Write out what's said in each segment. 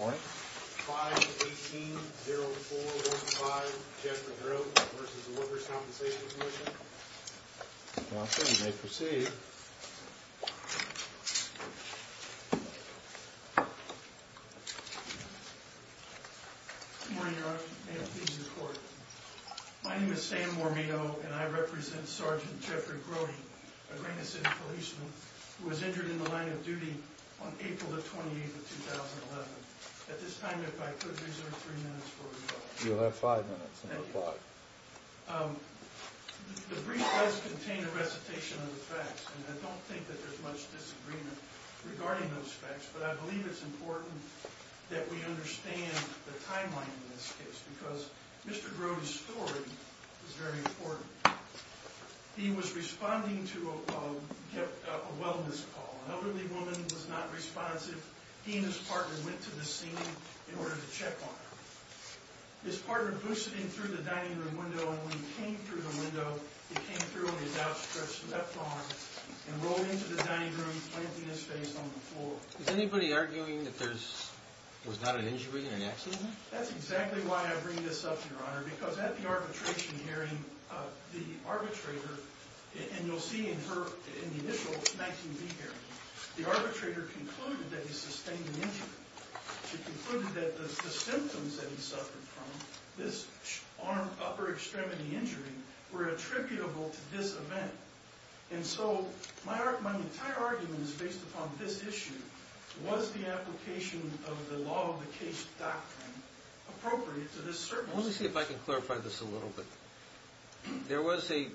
5-18-0415 Jeffery Grote v. The Workers' Compensation Commission Now, sir, you may proceed. Good morning, Your Honor. May it please the Court. My name is Sam Mormitto, and I represent Sergeant Jeffrey Grote, a Raina City policeman who was injured in the line of duty on April the 28th of 2011. At this time, if I could reserve three minutes for rebuttal. You'll have five minutes on the clock. Thank you. The brief does contain a recitation of the facts, and I don't think that there's much disagreement regarding those facts. But I believe it's important that we understand the timeline in this case, because Mr. Grote's story is very important. He was responding to a wellness call. An elderly woman was not responsive. He and his partner went to the ceiling in order to check on her. His partner boosted in through the dining room window, and when he came through the window, he came through on his outstretched left arm and rolled into the dining room, planting his face on the floor. Is anybody arguing that there was not an injury, an accident? That's exactly why I bring this up, Your Honor, because at the arbitration hearing, the arbitrator, and you'll see in the initial 19B hearing, the arbitrator concluded that he sustained an injury. He concluded that the symptoms that he suffered from, this upper extremity injury, were attributable to this event. And so my entire argument is based upon this issue. Was the application of the law of the case doctrine appropriate to this service? Let me see if I can clarify this a little bit. There was an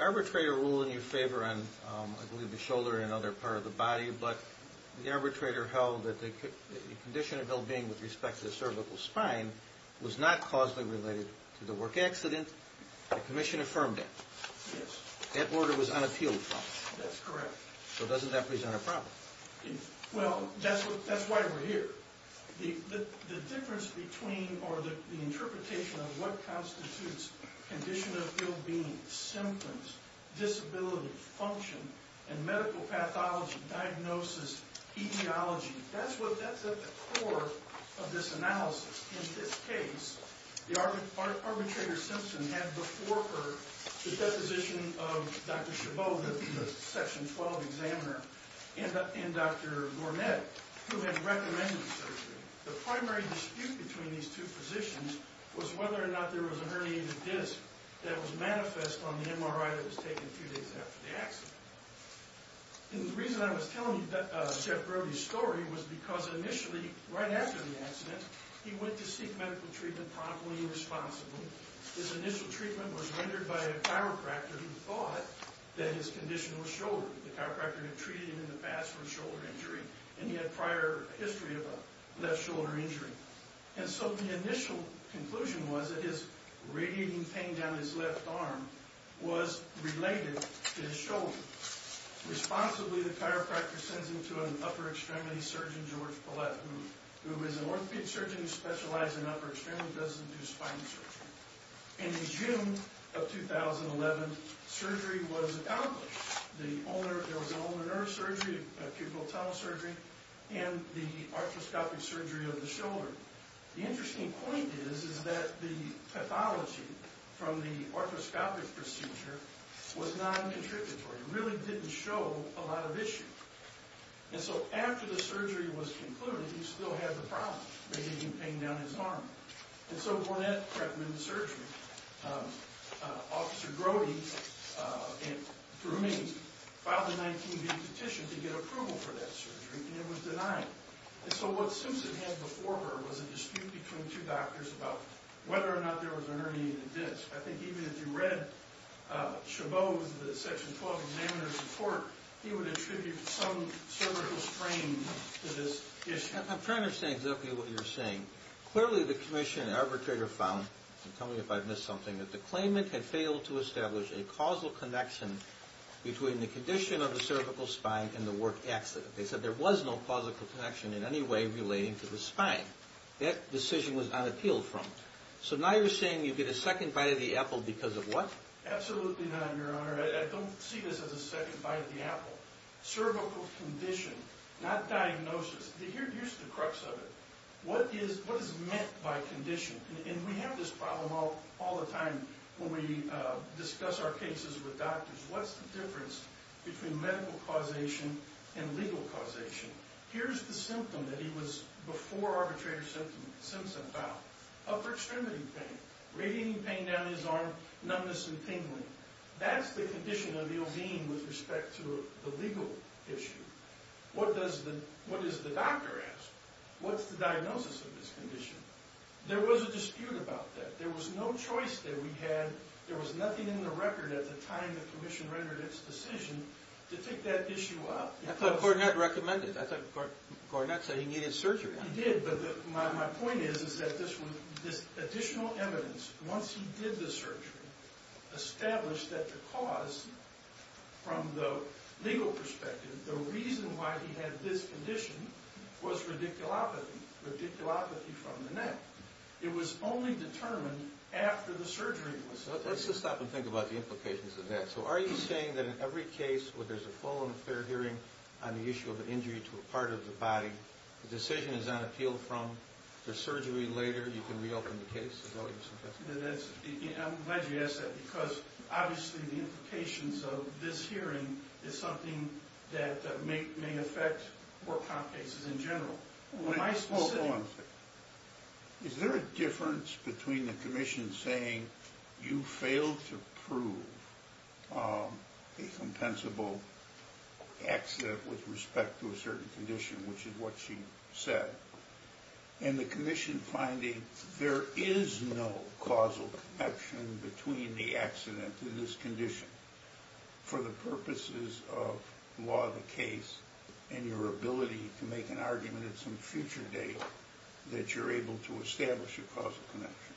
arbitrator ruling in your favor on, I believe, the shoulder and other part of the body, but the arbitrator held that the condition of well-being with respect to the cervical spine was not causally related to the work accident. The commission affirmed that. Yes. That order was unappealed from us. That's correct. So doesn't that present a problem? Well, that's why we're here. The difference between or the interpretation of what constitutes condition of well-being, symptoms, disability, function, and medical pathology, diagnosis, etiology, that's at the core of this analysis. In this case, the arbitrator Simpson had before her the deposition of Dr. Chabot, the Section 12 examiner, and Dr. Gourmet, who had recommended the surgery. The primary dispute between these two positions was whether or not there was a herniated disc that was manifest on the MRI that was taken two days after the accident. And the reason I was telling you Jeff Brody's story was because initially, right after the accident, he went to seek medical treatment promptly and responsibly. His initial treatment was rendered by a chiropractor who thought that his condition was shoulder. The chiropractor had treated him in the past for a shoulder injury, and he had prior history of a left shoulder injury. And so the initial conclusion was that his radiating pain down his left arm was related to his shoulder. Responsibly, the chiropractor sends him to an upper extremity surgeon, George Paulette, who is an orthopedic surgeon who specializes in upper extremity, doesn't do spine surgery. And in June of 2011, surgery was accomplished. There was an ulnar nerve surgery, a pupil tunnel surgery, and the arthroscopic surgery of the shoulder. The interesting point is that the pathology from the arthroscopic procedure was non-contributory. It really didn't show a lot of issue. And so after the surgery was concluded, he still had the problem, radiating pain down his arm. And so Gourmet recommended the surgery. Officer Grody and Gourmet filed a 19-B petition to get approval for that surgery, and it was denied. And so what Simpson had before her was a dispute between two doctors about whether or not there was an herniated disc. I think even if you read Chabot's, the Section 12 examiner's report, he would attribute some cervical strain to this issue. I'm trying to understand exactly what you're saying. Clearly the commission and arbitrator found, and tell me if I've missed something, that the claimant had failed to establish a causal connection between the condition of the cervical spine and the work accident. They said there was no causal connection in any way relating to the spine. That decision was not appealed from. So now you're saying you get a second bite of the apple because of what? Absolutely not, Your Honor. I don't see this as a second bite of the apple. Cervical condition, not diagnosis. Here's the crux of it. What is meant by condition? And we have this problem all the time when we discuss our cases with doctors. What's the difference between medical causation and legal causation? Here's the symptom that he was before arbitrator Simpson found. Upper extremity pain, radiating pain down his arm, numbness and tingling. That's the condition of the ill being with respect to the legal issue. What does the doctor ask? What's the diagnosis of this condition? There was a dispute about that. There was no choice that we had. There was nothing in the record at the time the commission rendered its decision to take that issue up. I thought Garnett recommended it. I thought Garnett said he needed surgery. He did, but my point is that this additional evidence, once he did the surgery, established that the cause from the legal perspective, the reason why he had this condition was radiculopathy, radiculopathy from the neck. It was only determined after the surgery was completed. Let's just stop and think about the implications of that. So are you saying that in every case where there's a full and fair hearing on the issue of an injury to a part of the body, the decision is not appealed from, there's surgery later, you can reopen the case? I'm glad you asked that because obviously the implications of this hearing is something that may affect work comp cases in general. Hold on a second. Is there a difference between the commission saying, you failed to prove a compensable accident with respect to a certain condition, which is what she said, and the commission finding there is no causal connection between the accident and this condition for the purposes of law of the case and your ability to make an argument at some future date that you're able to establish a causal connection?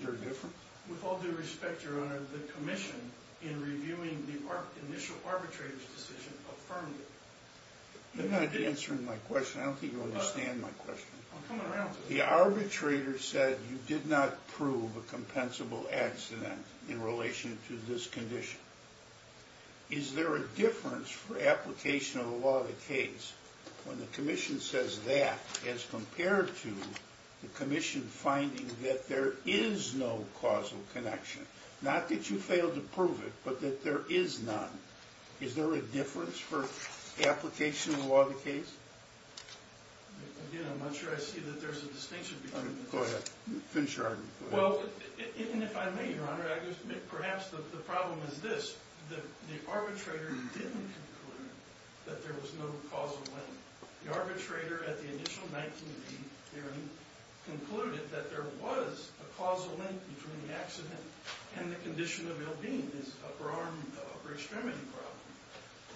Is there a difference? With all due respect, Your Honor, the commission in reviewing the initial arbitrator's decision affirmed it. You're not answering my question. I don't think you understand my question. I'll come around to it. The arbitrator said you did not prove a compensable accident in relation to this condition. Is there a difference for application of the law of the case when the commission says that as compared to the commission finding that there is no causal connection? Not that you failed to prove it, but that there is none. Is there a difference for application of the law of the case? Again, I'm not sure I see that there's a distinction between the two. Go ahead. Finish your argument. Well, if I may, Your Honor, perhaps the problem is this. The arbitrator didn't conclude that there was no causal link. The arbitrator at the initial 1980 hearing concluded that there was a causal link between the accident and the condition of ill-being, this upper arm, upper extremity problem.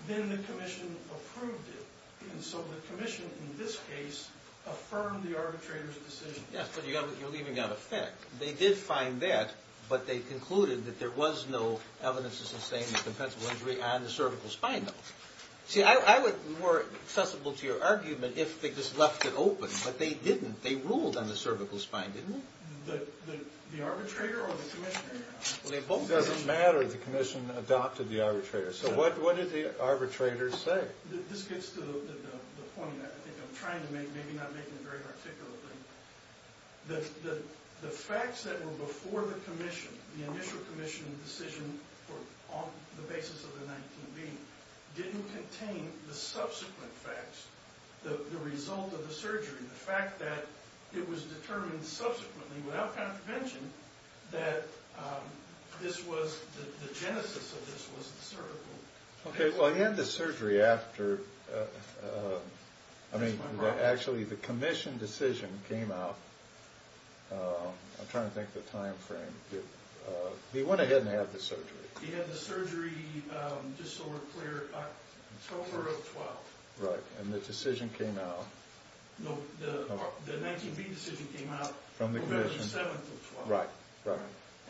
Then the commission approved it. And so the commission in this case affirmed the arbitrator's decision. Yes, but you're leaving out a fact. They did find that, but they concluded that there was no evidence to sustain the compensable injury on the cervical spine, though. See, I would be more accessible to your argument if they just left it open, but they didn't. They ruled on the cervical spine, didn't they? The arbitrator or the commissioner? It doesn't matter if the commission adopted the arbitrator. So what did the arbitrator say? This gets to the point that I think I'm trying to make, maybe not making it very articulate. The facts that were before the commission, the initial commission decision on the basis of the 19-B, didn't contain the subsequent facts, the result of the surgery, the fact that it was determined subsequently, without contravention, that the genesis of this was the cervical. Okay, well, he had the surgery after, I mean, actually, the commission decision came out. I'm trying to think of the time frame. He went ahead and had the surgery. He had the surgery October of 12. Right, and the decision came out. No, the 19-B decision came out November the 7th of 12. Right, right.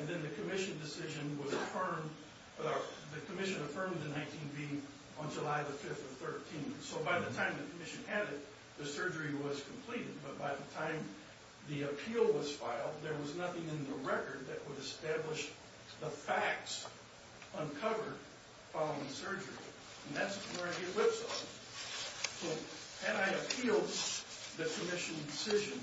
And then the commission decision was affirmed, the commission affirmed the 19-B on July the 5th of 13. So by the time the commission had it, the surgery was completed. But by the time the appeal was filed, there was nothing in the record that would establish the facts uncovered following surgery. And that's where I get whipsawed. So had I appealed the commission decision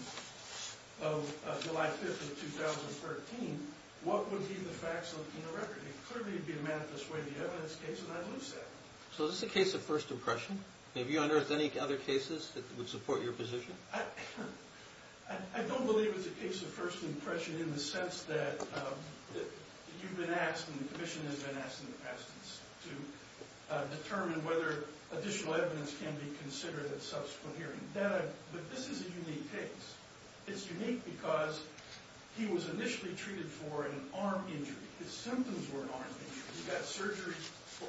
of July 5th of 2013, what would be the facts in the record? It clearly would be a manifest way of the evidence case, and I'd lose that. So is this a case of first impression? Have you unearthed any other cases that would support your position? I don't believe it's a case of first impression in the sense that you've been asked and the commission has been asked in the past to determine whether additional evidence can be considered at subsequent hearing. But this is a unique case. It's unique because he was initially treated for an arm injury. His symptoms were an arm injury. He got surgery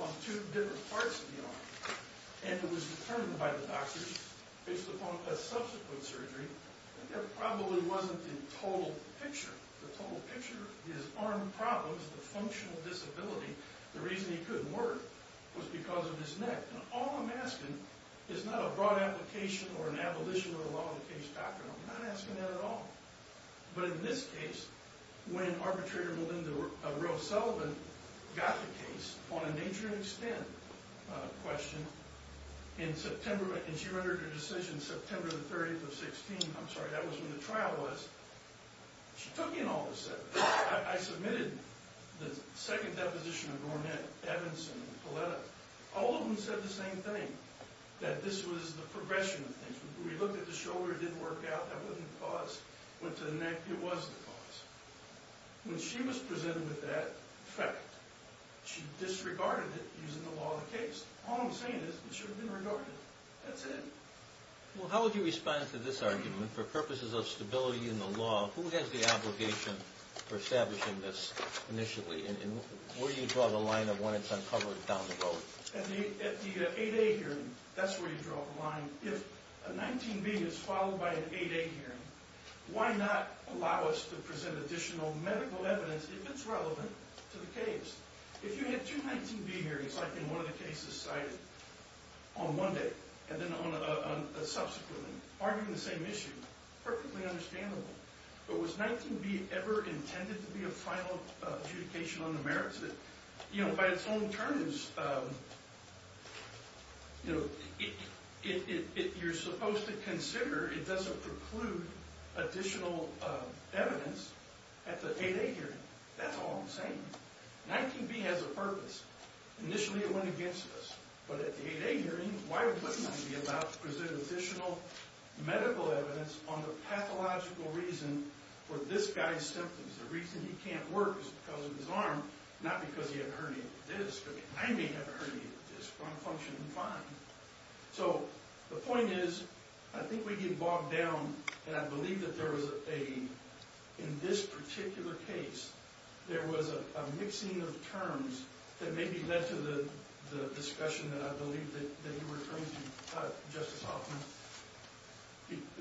on two different parts of the arm. And it was determined by the doctors, based upon a subsequent surgery, that there probably wasn't a total picture. The total picture is arm problems, the functional disability. The reason he couldn't work was because of his neck. And all I'm asking is not a broad application or an abolition of the law of the case doctrine. I'm not asking that at all. But in this case, when arbitrator Melinda Rose Sullivan got the case on a nature and extent question in September, and she rendered her decision September the 30th of 16, I'm sorry, that was when the trial was, she took in all the evidence. I submitted the second deposition of Gornett, Evanson, and Poletta. All of them said the same thing, that this was the progression of things. We looked at the shoulder, it didn't work out, that wasn't the cause. Went to the neck, it was the cause. When she was presented with that fact, she disregarded it using the law of the case. All I'm saying is it should have been regarded. That's it. Well, how would you respond to this argument? For purposes of stability in the law, who has the obligation for establishing this initially? And where do you draw the line of when it's uncovered down the road? At the 8A hearing, that's where you draw the line. If a 19B is followed by an 8A hearing, why not allow us to present additional medical evidence if it's relevant to the case? If you had two 19B hearings, like in one of the cases cited on one day and then on a subsequent, arguing the same issue, perfectly understandable. But was 19B ever intended to be a final adjudication on the merits? By its own terms, you're supposed to consider it doesn't preclude additional evidence at the 8A hearing. That's all I'm saying. 19B has a purpose. Initially, it went against us. But at the 8A hearing, why wouldn't I be allowed to present additional medical evidence on the pathological reason for this guy's symptoms? The reason he can't work is because of his arm, not because he had a herniated disc. I mean, I may have a herniated disc, but I'm functioning fine. So the point is, I think we can bog down, and I believe that there was a, in this particular case, there was a mixing of terms that maybe led to the discussion that I believe that you were referring to, Justice Hoffman.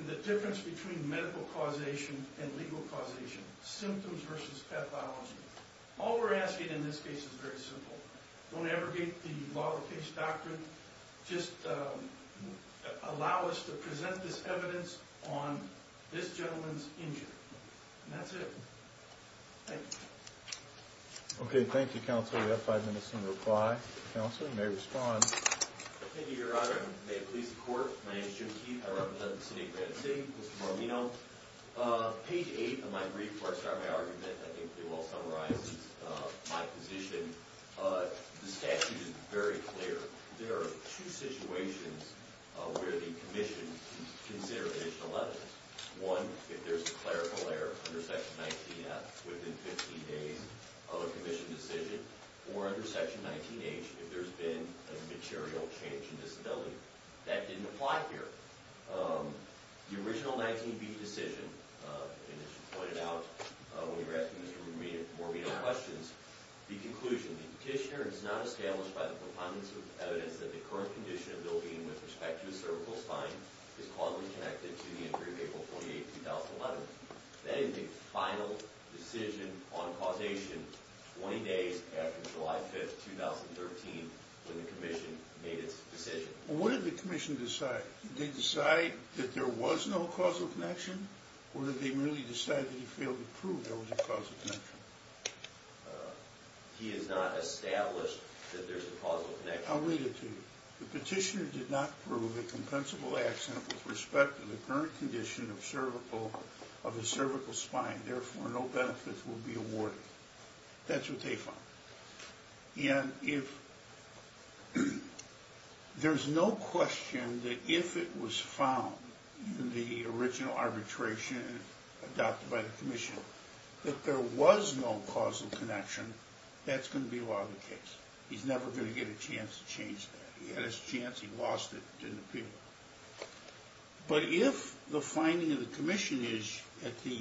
The difference between medical causation and legal causation. Symptoms versus pathology. All we're asking in this case is very simple. Don't abrogate the law of the case doctrine. Just allow us to present this evidence on this gentleman's injury. And that's it. Thank you. Okay, thank you, Counselor. We have five minutes in reply. Counselor, you may respond. Thank you, Your Honor. May it please the Court. My name is Jim Keith. I represent the city of Grand City. Mr. Marlino. Page 8 of my brief where I start my argument, I think it well summarizes my position. The statute is very clear. There are two situations where the commission can consider additional evidence. One, if there's a clerical error under Section 19F within 15 days of a commission decision. Or under Section 19H, if there's been a material change in disability. That didn't apply here. The original 19B decision, and as you pointed out when you were asking Mr. Marlino questions, the conclusion of the petitioner is not established by the proponents of evidence that the current condition of Bill Bean with respect to his cervical spine is causally connected to the injury of April 28, 2011. That is a final decision on causation 20 days after July 5, 2013, when the commission made its decision. What did the commission decide? Did they decide that there was no causal connection? Or did they merely decide that he failed to prove there was a causal connection? He has not established that there's a causal connection. I'll read it to you. The petitioner did not prove a compensable accident with respect to the current condition of his cervical spine. Therefore, no benefits will be awarded. That's what they found. And if there's no question that if it was found in the original arbitration adopted by the commission, that there was no causal connection, that's going to be a lot of the case. He's never going to get a chance to change that. He had his chance, he lost it, it didn't appeal. But if the finding of the commission is at the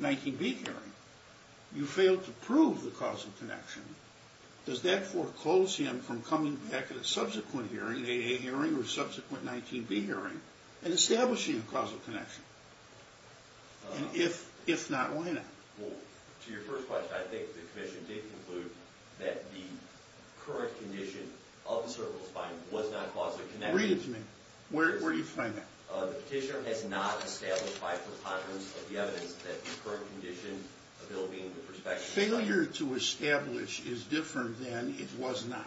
19B hearing, you failed to prove the causal connection, does that foreclose him from coming back at a subsequent hearing, an AA hearing or subsequent 19B hearing, and establishing a causal connection? And if not, why not? Well, to your first question, I think the commission did conclude that the current condition of the cervical spine was not causally connected. Read it to me. Where do you find that? The petitioner has not established by preponderance of the evidence that the current condition of ill-being with respect to… Failure to establish is different than it was not.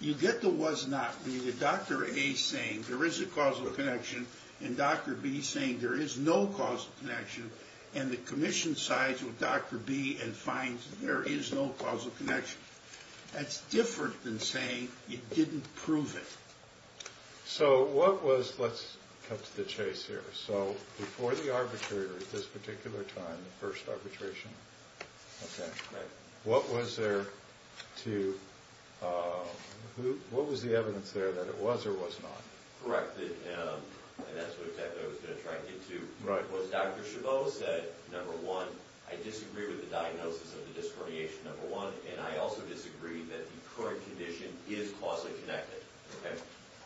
You get the was not, you get Dr. A saying there is a causal connection and Dr. B saying there is no causal connection, and the commission sides with Dr. B and finds there is no causal connection. That's different than saying you didn't prove it. So what was, let's cut to the chase here, so before the arbitration at this particular time, the first arbitration, what was there to, what was the evidence there that it was or was not? Correct, and that's what I was going to try and get to. What Dr. Chabot said, number one, I disagree with the diagnosis of the disc herniation, number one, and I also disagree that the current condition is causally connected.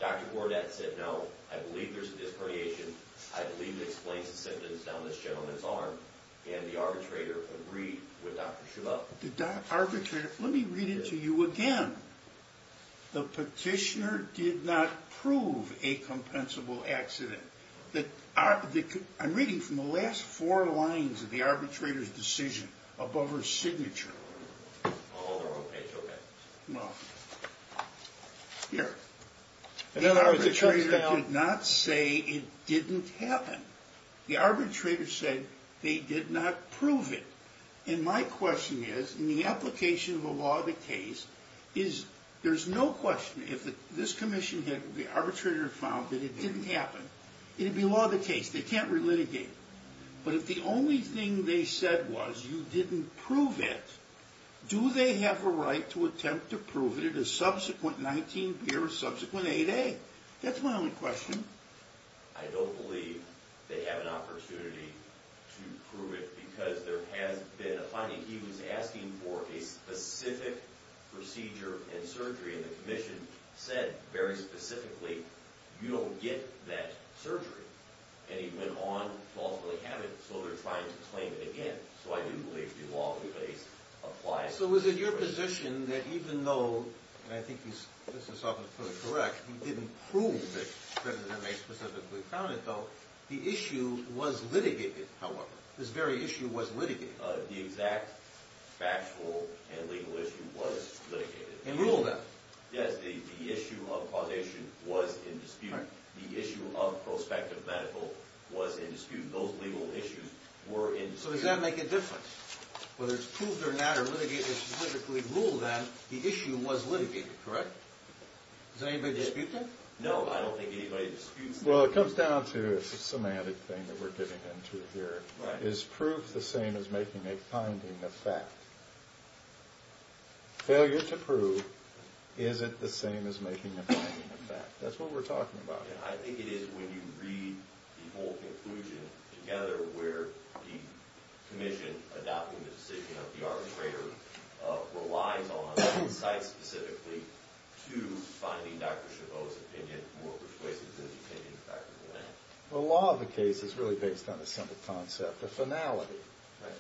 Dr. Bourdette said no, I believe there's a disc herniation, I believe it explains the symptoms down this gentleman's arm, and the arbitrator agreed with Dr. Chabot. The arbitrator, let me read it to you again. The petitioner did not prove a compensable accident. I'm reading from the last four lines of the arbitrator's decision above her signature. Here, the arbitrator did not say it didn't happen. The arbitrator said they did not prove it, and my question is, in the application of a law of the case, there's no question if this commission had the arbitrator found that it didn't happen, it'd be law of the case, they can't relitigate it, but if the only thing they said was you didn't prove it, do they have a right to attempt to prove it at a subsequent 19B or subsequent 8A? That's my only question. I don't believe they have an opportunity to prove it, because there has been a finding. He was asking for a specific procedure and surgery, and the commission said very specifically, you don't get that surgery, and he went on to falsely have it, so they're trying to claim it again. So I do believe the law of the case applies. So is it your position that even though, and I think Mr. Suffolk is probably correct, he didn't prove that President May specifically found it, though, the issue was litigated, however, this very issue was litigated. The exact factual and legal issue was litigated. And ruled that. Yes, the issue of causation was in dispute. The issue of prospective medical was in dispute. Those legal issues were in dispute. So does that make a difference? Whether it's proved or not or litigated or specifically ruled that, the issue was litigated, correct? Does anybody dispute that? No, I don't think anybody disputes that. Well, it comes down to a semantic thing that we're getting into here. Is proof the same as making a finding of fact? Failure to prove isn't the same as making a finding of fact. That's what we're talking about. I think it is when you read the whole conclusion together where the commission adopting the decision of the arbitrator relies on insight specifically to finding Dr. Chabot's opinion more persuasive than the opinion of Dr. Millan. The law of the case is really based on a simple concept, a finality. Right.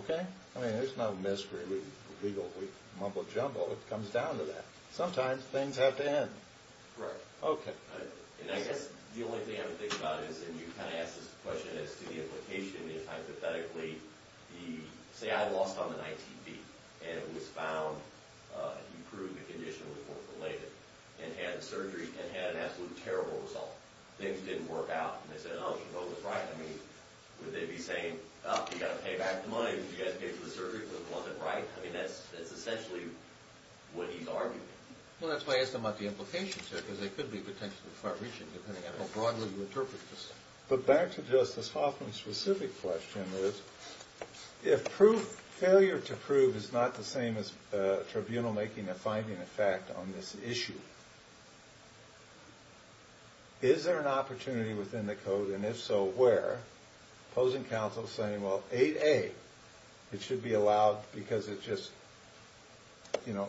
Okay? I mean, there's no mystery, legal mumbo-jumbo. It comes down to that. Sometimes things have to end. Correct. Okay. And I guess the only thing I would think about is, and you kind of asked this question as to the implication, is, hypothetically, say I lost on an ITV, and it was found that you proved the condition was forth-related and had the surgery and had an absolutely terrible result. Things didn't work out, and they said, Oh, Chabot was right. I mean, would they be saying, Oh, you've got to pay back the money that you guys paid for the surgery because it wasn't right? I mean, that's essentially what he's arguing. Well, that's why I asked him about the implications here because they could be potentially far-reaching depending on how broadly you interpret this. But back to Justice Hoffman's specific question is, if failure to prove is not the same as tribunal-making and finding a fact on this issue, is there an opportunity within the Code, and if so, where, opposing counsel saying, Well, 8A, it should be allowed because it just, you know,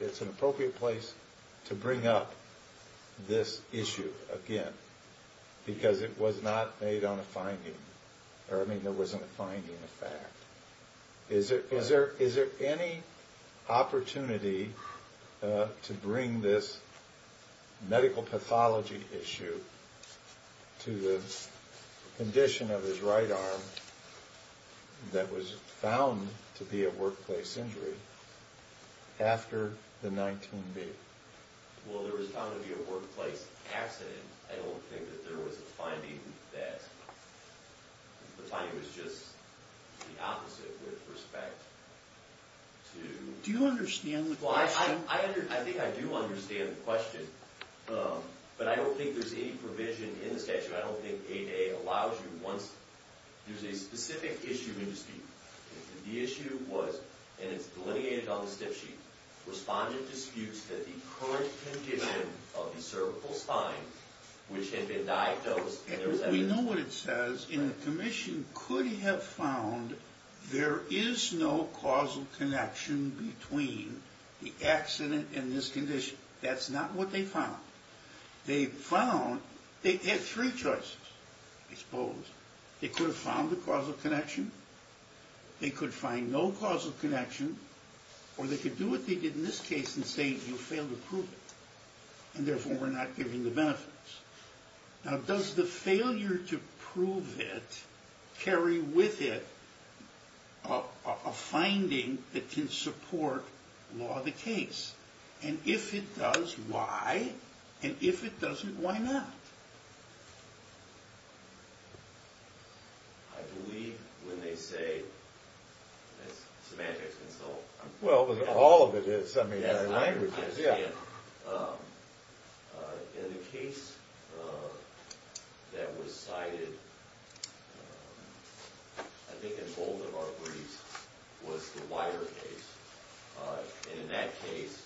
it's an appropriate place to bring up this issue again because it was not made on a finding, or, I mean, there wasn't a finding of fact. Is there any opportunity to bring this medical pathology issue to the condition of his right arm that was found to be a workplace injury after the 19B? Well, there was found to be a workplace accident. I don't think that there was a finding of that. The finding was just the opposite with respect to... Do you understand the question? I think I do understand the question, but I don't think there's any provision in the statute. I don't think 8A allows you once... There's a specific issue in dispute. The issue was, and it's delineated on the stiff sheet, responded to disputes that the current condition of the cervical spine, which had been diagnosed... We know what it says, and the commission could have found there is no causal connection between the accident and this condition. That's not what they found. They found... They had three choices, I suppose. They could have found the causal connection, they could find no causal connection, or they could do what they did in this case and say, you failed to prove it, and therefore we're not giving the benefits. Now, does the failure to prove it carry with it a finding that can support law of the case? And if it does, why? And if it doesn't, why not? I believe when they say... Semantics consult. Well, all of it is, I mean, in other languages. I understand. In the case that was cited, I think in both of our briefs, was the wider case. And in that case,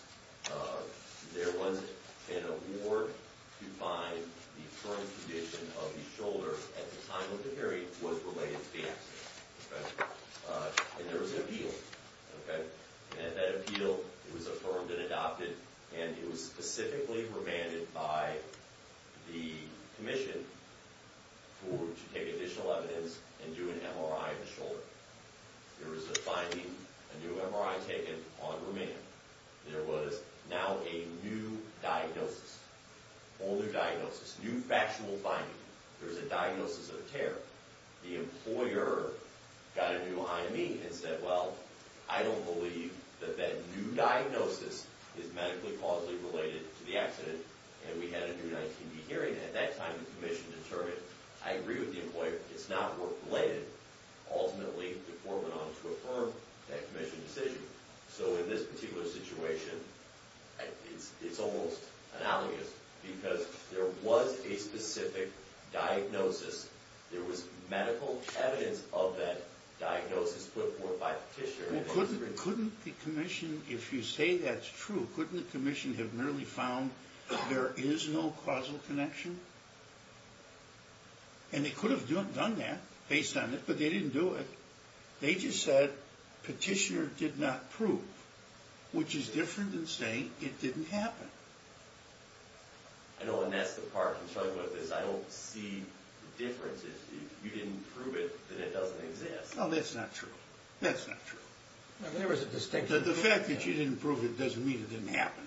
there was an award to find the current condition of the shoulder at the time of the hearing was related to the accident. And there was an appeal. And that appeal was affirmed and adopted, and it was specifically remanded by the commission to take additional evidence and do an MRI of the shoulder. There was a finding, a new MRI taken on remand. There was now a new diagnosis. Whole new diagnosis. New factual finding. There's a diagnosis of tear. The employer got a new IME and said, well, I don't believe that that new diagnosis is medically causally related to the accident, and we had a new 19B hearing. At that time, the commission determined, I agree with the employer, it's not work-related. Ultimately, the court went on to affirm that commission decision. So in this particular situation, it's almost analogous, because there was a specific diagnosis. There was medical evidence of that diagnosis put forth by the petitioner. Well, couldn't the commission, if you say that's true, couldn't the commission have merely found there is no causal connection? And they could have done that, based on it, but they didn't do it. They just said, petitioner did not prove, which is different than saying it didn't happen. I know, and that's the part I'm struggling with, is I don't see the difference. If you didn't prove it, then it doesn't exist. No, that's not true. That's not true. The fact that you didn't prove it doesn't mean it didn't happen.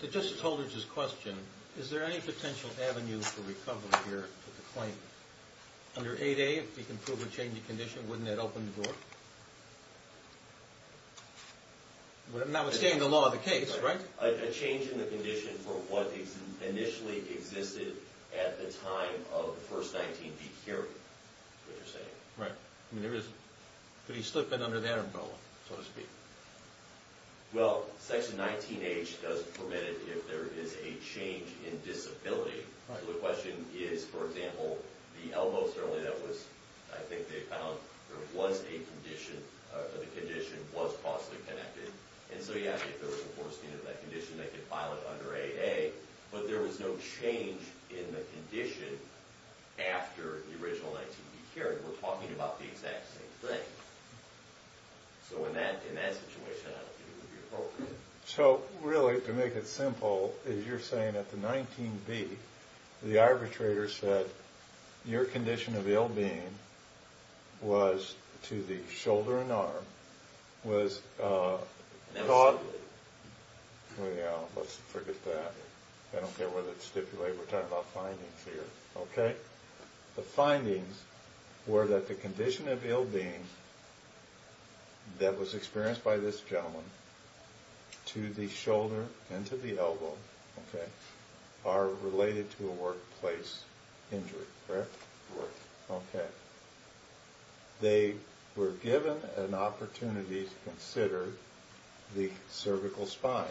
To Justice Holder's question, is there any potential avenue for recovery here for the claim? Under 8A, if you can prove a change in condition, wouldn't that open the door? Notwithstanding the law of the case, right? A change in the condition for what initially existed at the time of the first 19B hearing, is what you're saying. Right. I mean, could he slip in under that umbrella, so to speak? Well, Section 19H does permit it if there is a change in disability. Right. So the question is, for example, the elbows, certainly that was, I think they found there was a condition, or the condition was causally connected. And so, yeah, if there was a foresteen of that condition, they could file it under 8A. But there was no change in the condition after the original 19B hearing. We're talking about the exact same thing. So in that situation, I don't think it would be appropriate. So, really, to make it simple, as you're saying at the 19B, the arbitrator said your condition of ill-being was to the shoulder and arm, was taught... Never stipulated. Well, yeah, let's forget that. I don't care whether it's stipulated. We're talking about findings here, okay? The findings were that the condition of ill-being that was experienced by this gentleman to the shoulder and to the elbow, okay, are related to a workplace injury, correct? Correct. Okay. They were given an opportunity to consider the cervical spine,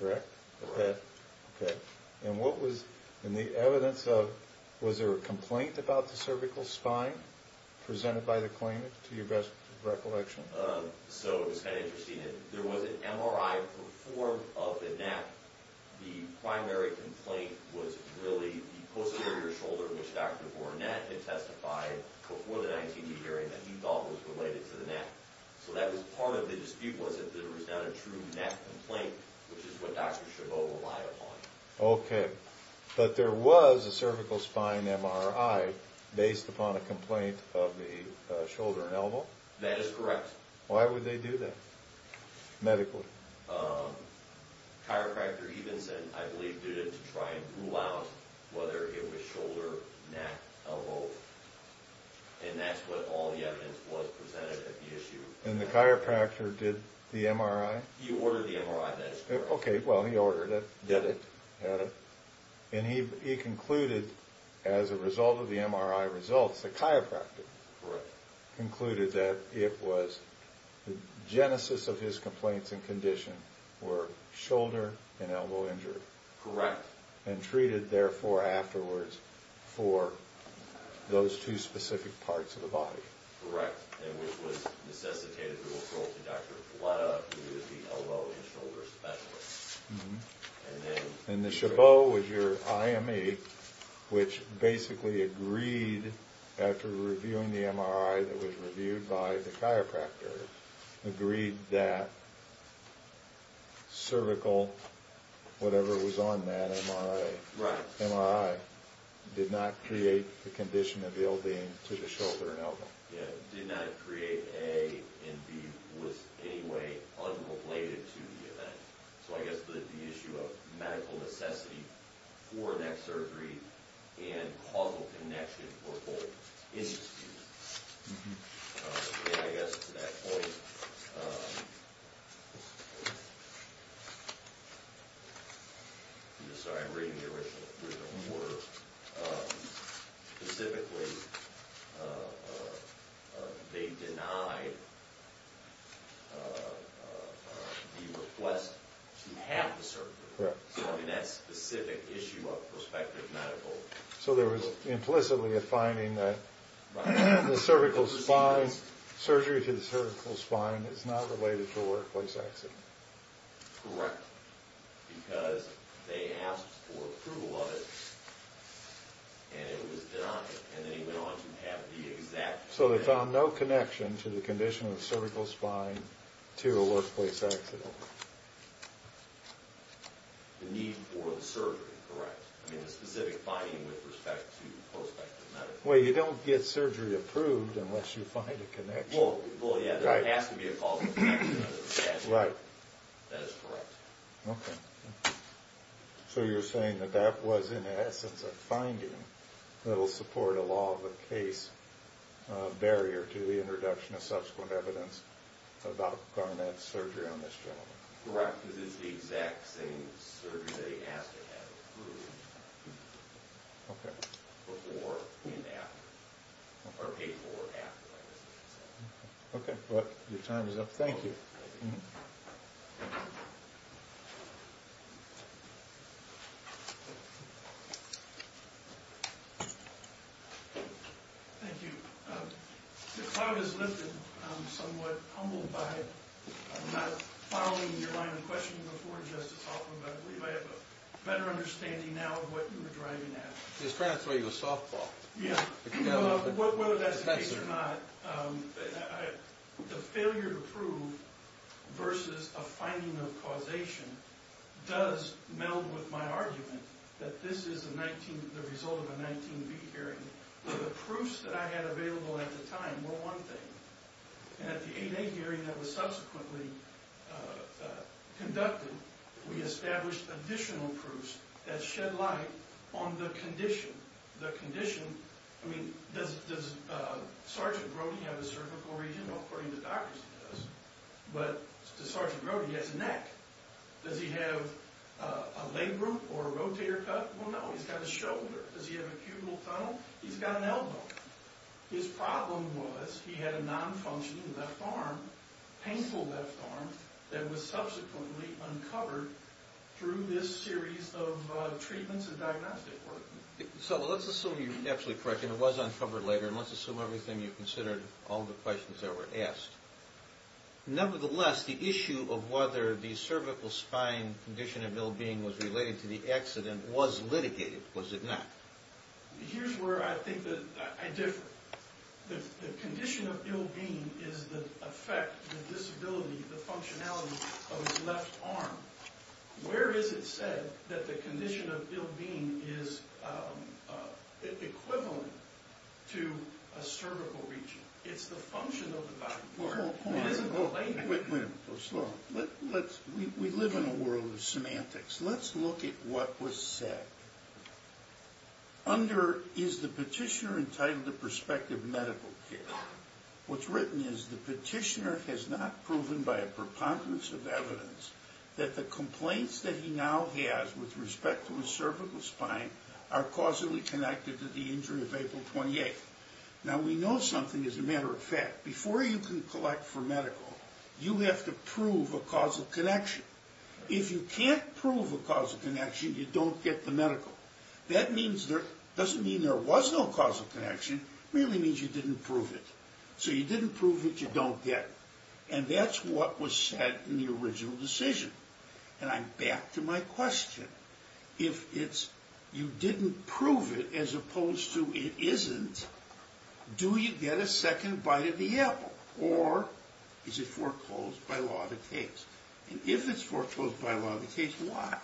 correct? Correct. Okay. And what was... And the evidence of... Was there a complaint about the cervical spine presented by the claimant, to your best recollection? So it was kind of interesting. There was an MRI performed of the neck. The primary complaint was really the posterior shoulder, which Dr. Bournette had testified before the 19B hearing that he thought was related to the neck. So that was part of the dispute, was that there was not a true neck complaint, which is what Dr. Chabot relied upon. Okay. But there was a cervical spine MRI based upon a complaint of the shoulder and elbow? That is correct. Why would they do that, medically? Chiropractor Evenson, I believe, did it to try and rule out whether it was shoulder, neck, elbow. And that's what all the evidence was presented at the issue. And the chiropractor did the MRI? He ordered the MRI, that is correct. Okay, well, he ordered it. Did it. Had it. And he concluded, as a result of the MRI results, that the chiropractor concluded that it was the genesis of his complaints and condition were shoulder and elbow injury. Correct. And treated, therefore, afterwards for those two specific parts of the body. Correct. And which was necessitated the referral to Dr. Filetta, who is the elbow and shoulder specialist. And the Chabot was your IME, which basically agreed, after reviewing the MRI that was reviewed by the chiropractor, agreed that cervical, whatever was on that MRI, did not create the condition of the ill being to the shoulder and elbow. Yeah, did not create A and B, was anyway unrelated to the event. So, I guess, the issue of medical necessity for neck surgery and causal connection for both. And I guess, to that point, I'm sorry, I'm reading the original order. Specifically, they denied the request to have the cervical. Correct. So, I mean, that specific issue of prospective medical... So, there was implicitly a finding that the cervical spine, surgery to the cervical spine is not related to a workplace accident. Correct. Because they asked for approval of it and it was denied. And they went on to have the exact... So, they found no connection to the condition of the cervical spine to a workplace accident. The need for the surgery, correct. I mean, the specific finding with respect to prospective medical... Well, you don't get surgery approved unless you find a connection. Well, yeah, there has to be a causal connection. Right. That is correct. Okay. So, you're saying that that was, in essence, a finding that will support a law of the case barrier to the introduction of subsequent evidence about Garnett's surgery on this gentleman. Correct. Because it's the exact same surgery that he asked to have approved Okay. before and after, or paid for after, like I said. Okay. Your time is up. Thank you. Thank you. The cloud has lifted. I'm somewhat humbled by... I'm not following your line of questioning before, Justice Hoffman, but I believe I have a better understanding now of what you were driving at. He was trying to throw you a softball. Yeah. Whether that's the case or not, the failure to prove versus a finding of causation does meld with my argument that this is the result of a 19B hearing. The proofs that I had available at the time were one thing. And at the 8A hearing that was subsequently conducted, we established additional proofs that shed light on the condition. The condition... I mean, does Sergeant Brody have a cervical region? According to doctors, he does. But does Sergeant Brody have a neck? Does he have a leg root or a rotator cuff? Well, no. He's got a shoulder. Does he have a cubital tunnel? He's got an elbow. His problem was he had a nonfunctioning left arm, painful left arm, that was subsequently uncovered through this series of treatments and diagnostic work. So let's assume you're absolutely correct, and it was uncovered later, and let's assume everything you considered, all the questions that were asked. Nevertheless, the issue of whether the cervical spine condition of ill-being was related to the accident was litigated, was it not? Here's where I think that I differ. The condition of ill-being is the effect, the disability, the functionality of his left arm. Where is it said that the condition of ill-being is equivalent to a cervical region? It's the function of the body. Wait a minute. Go slow. We live in a world of semantics. Let's look at what was said. Under is the petitioner entitled to prospective medical care, what's written is the petitioner has not proven by a preponderance of evidence that the complaints that he now has with respect to his cervical spine are causally connected to the injury of April 28th. Now, we know something as a matter of fact. Before you can collect for medical, you have to prove a causal connection. If you can't prove a causal connection, you don't get the medical. That doesn't mean there was no causal connection, it merely means you didn't prove it. So you didn't prove it, you don't get it. And that's what was said in the original decision. And I'm back to my question. If you didn't prove it as opposed to it isn't, do you get a second bite of the apple? Or is it foreclosed by law that takes? And if it's foreclosed by law that takes, why?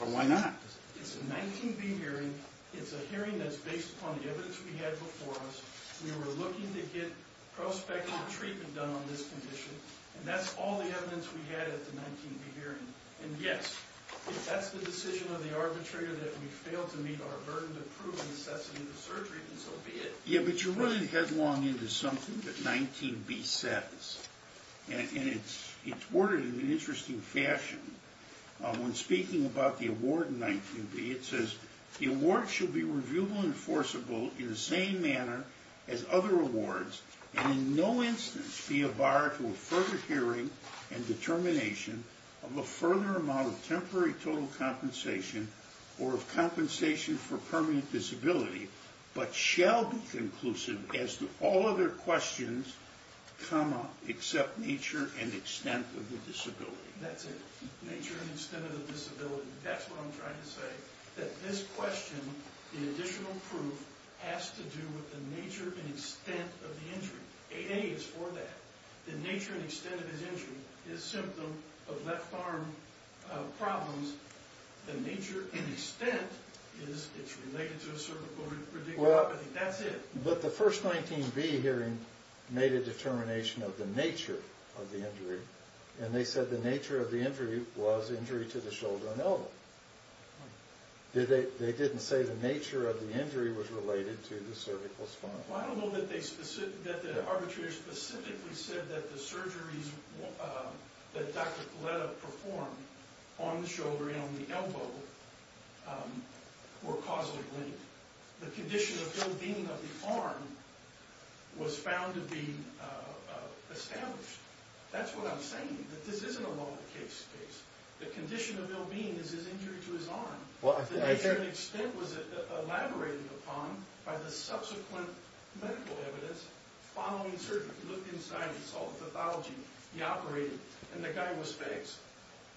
Or why not? It's a 19B hearing. It's a hearing that's based upon the evidence we had before us. We were looking to get prospective treatment done on this condition. And that's all the evidence we had at the 19B hearing. And, yes, if that's the decision of the arbitrator that we failed to meet our burden to prove the necessity of the surgery, then so be it. Yeah, but you're running headlong into something that 19B says. And it's worded in an interesting fashion. When speaking about the award in 19B, it says, the award should be reviewable and enforceable in the same manner as other awards and in no instance be a bar to a further hearing and determination of a further amount of temporary total compensation or of compensation for permanent disability, but shall be conclusive as to all other questions, comma, except nature and extent of the disability. That's it. Nature and extent of the disability. That's what I'm trying to say. That this question, the additional proof, has to do with the nature and extent of the injury. 8A is for that. The nature and extent of his injury is a symptom of left arm problems. The nature and extent is it's related to a cervical ridiculopathy. That's it. But the first 19B hearing made a determination of the nature of the injury, and they said the nature of the injury was injury to the shoulder and elbow. They didn't say the nature of the injury was related to the cervical spine. Well, I don't know that the arbitrator specifically said that the surgeries that Dr. Coletta performed on the shoulder and on the elbow were causally linked. The condition of ill-being of the arm was found to be established. That's what I'm saying, that this isn't a law of the case case. The condition of ill-being is his injury to his arm. The nature and extent was elaborated upon by the subsequent medical evidence following surgery. We looked inside and saw the pathology. He operated, and the guy was fixed.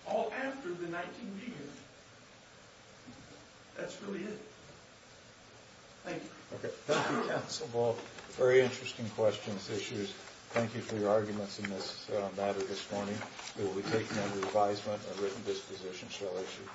All after the 19B hearing. That's really it. Thank you. Okay. Thank you, Counsel Ball. Very interesting questions, issues. Thank you for your arguments in this matter this morning. We will be taking under advisement a written disposition shall issue.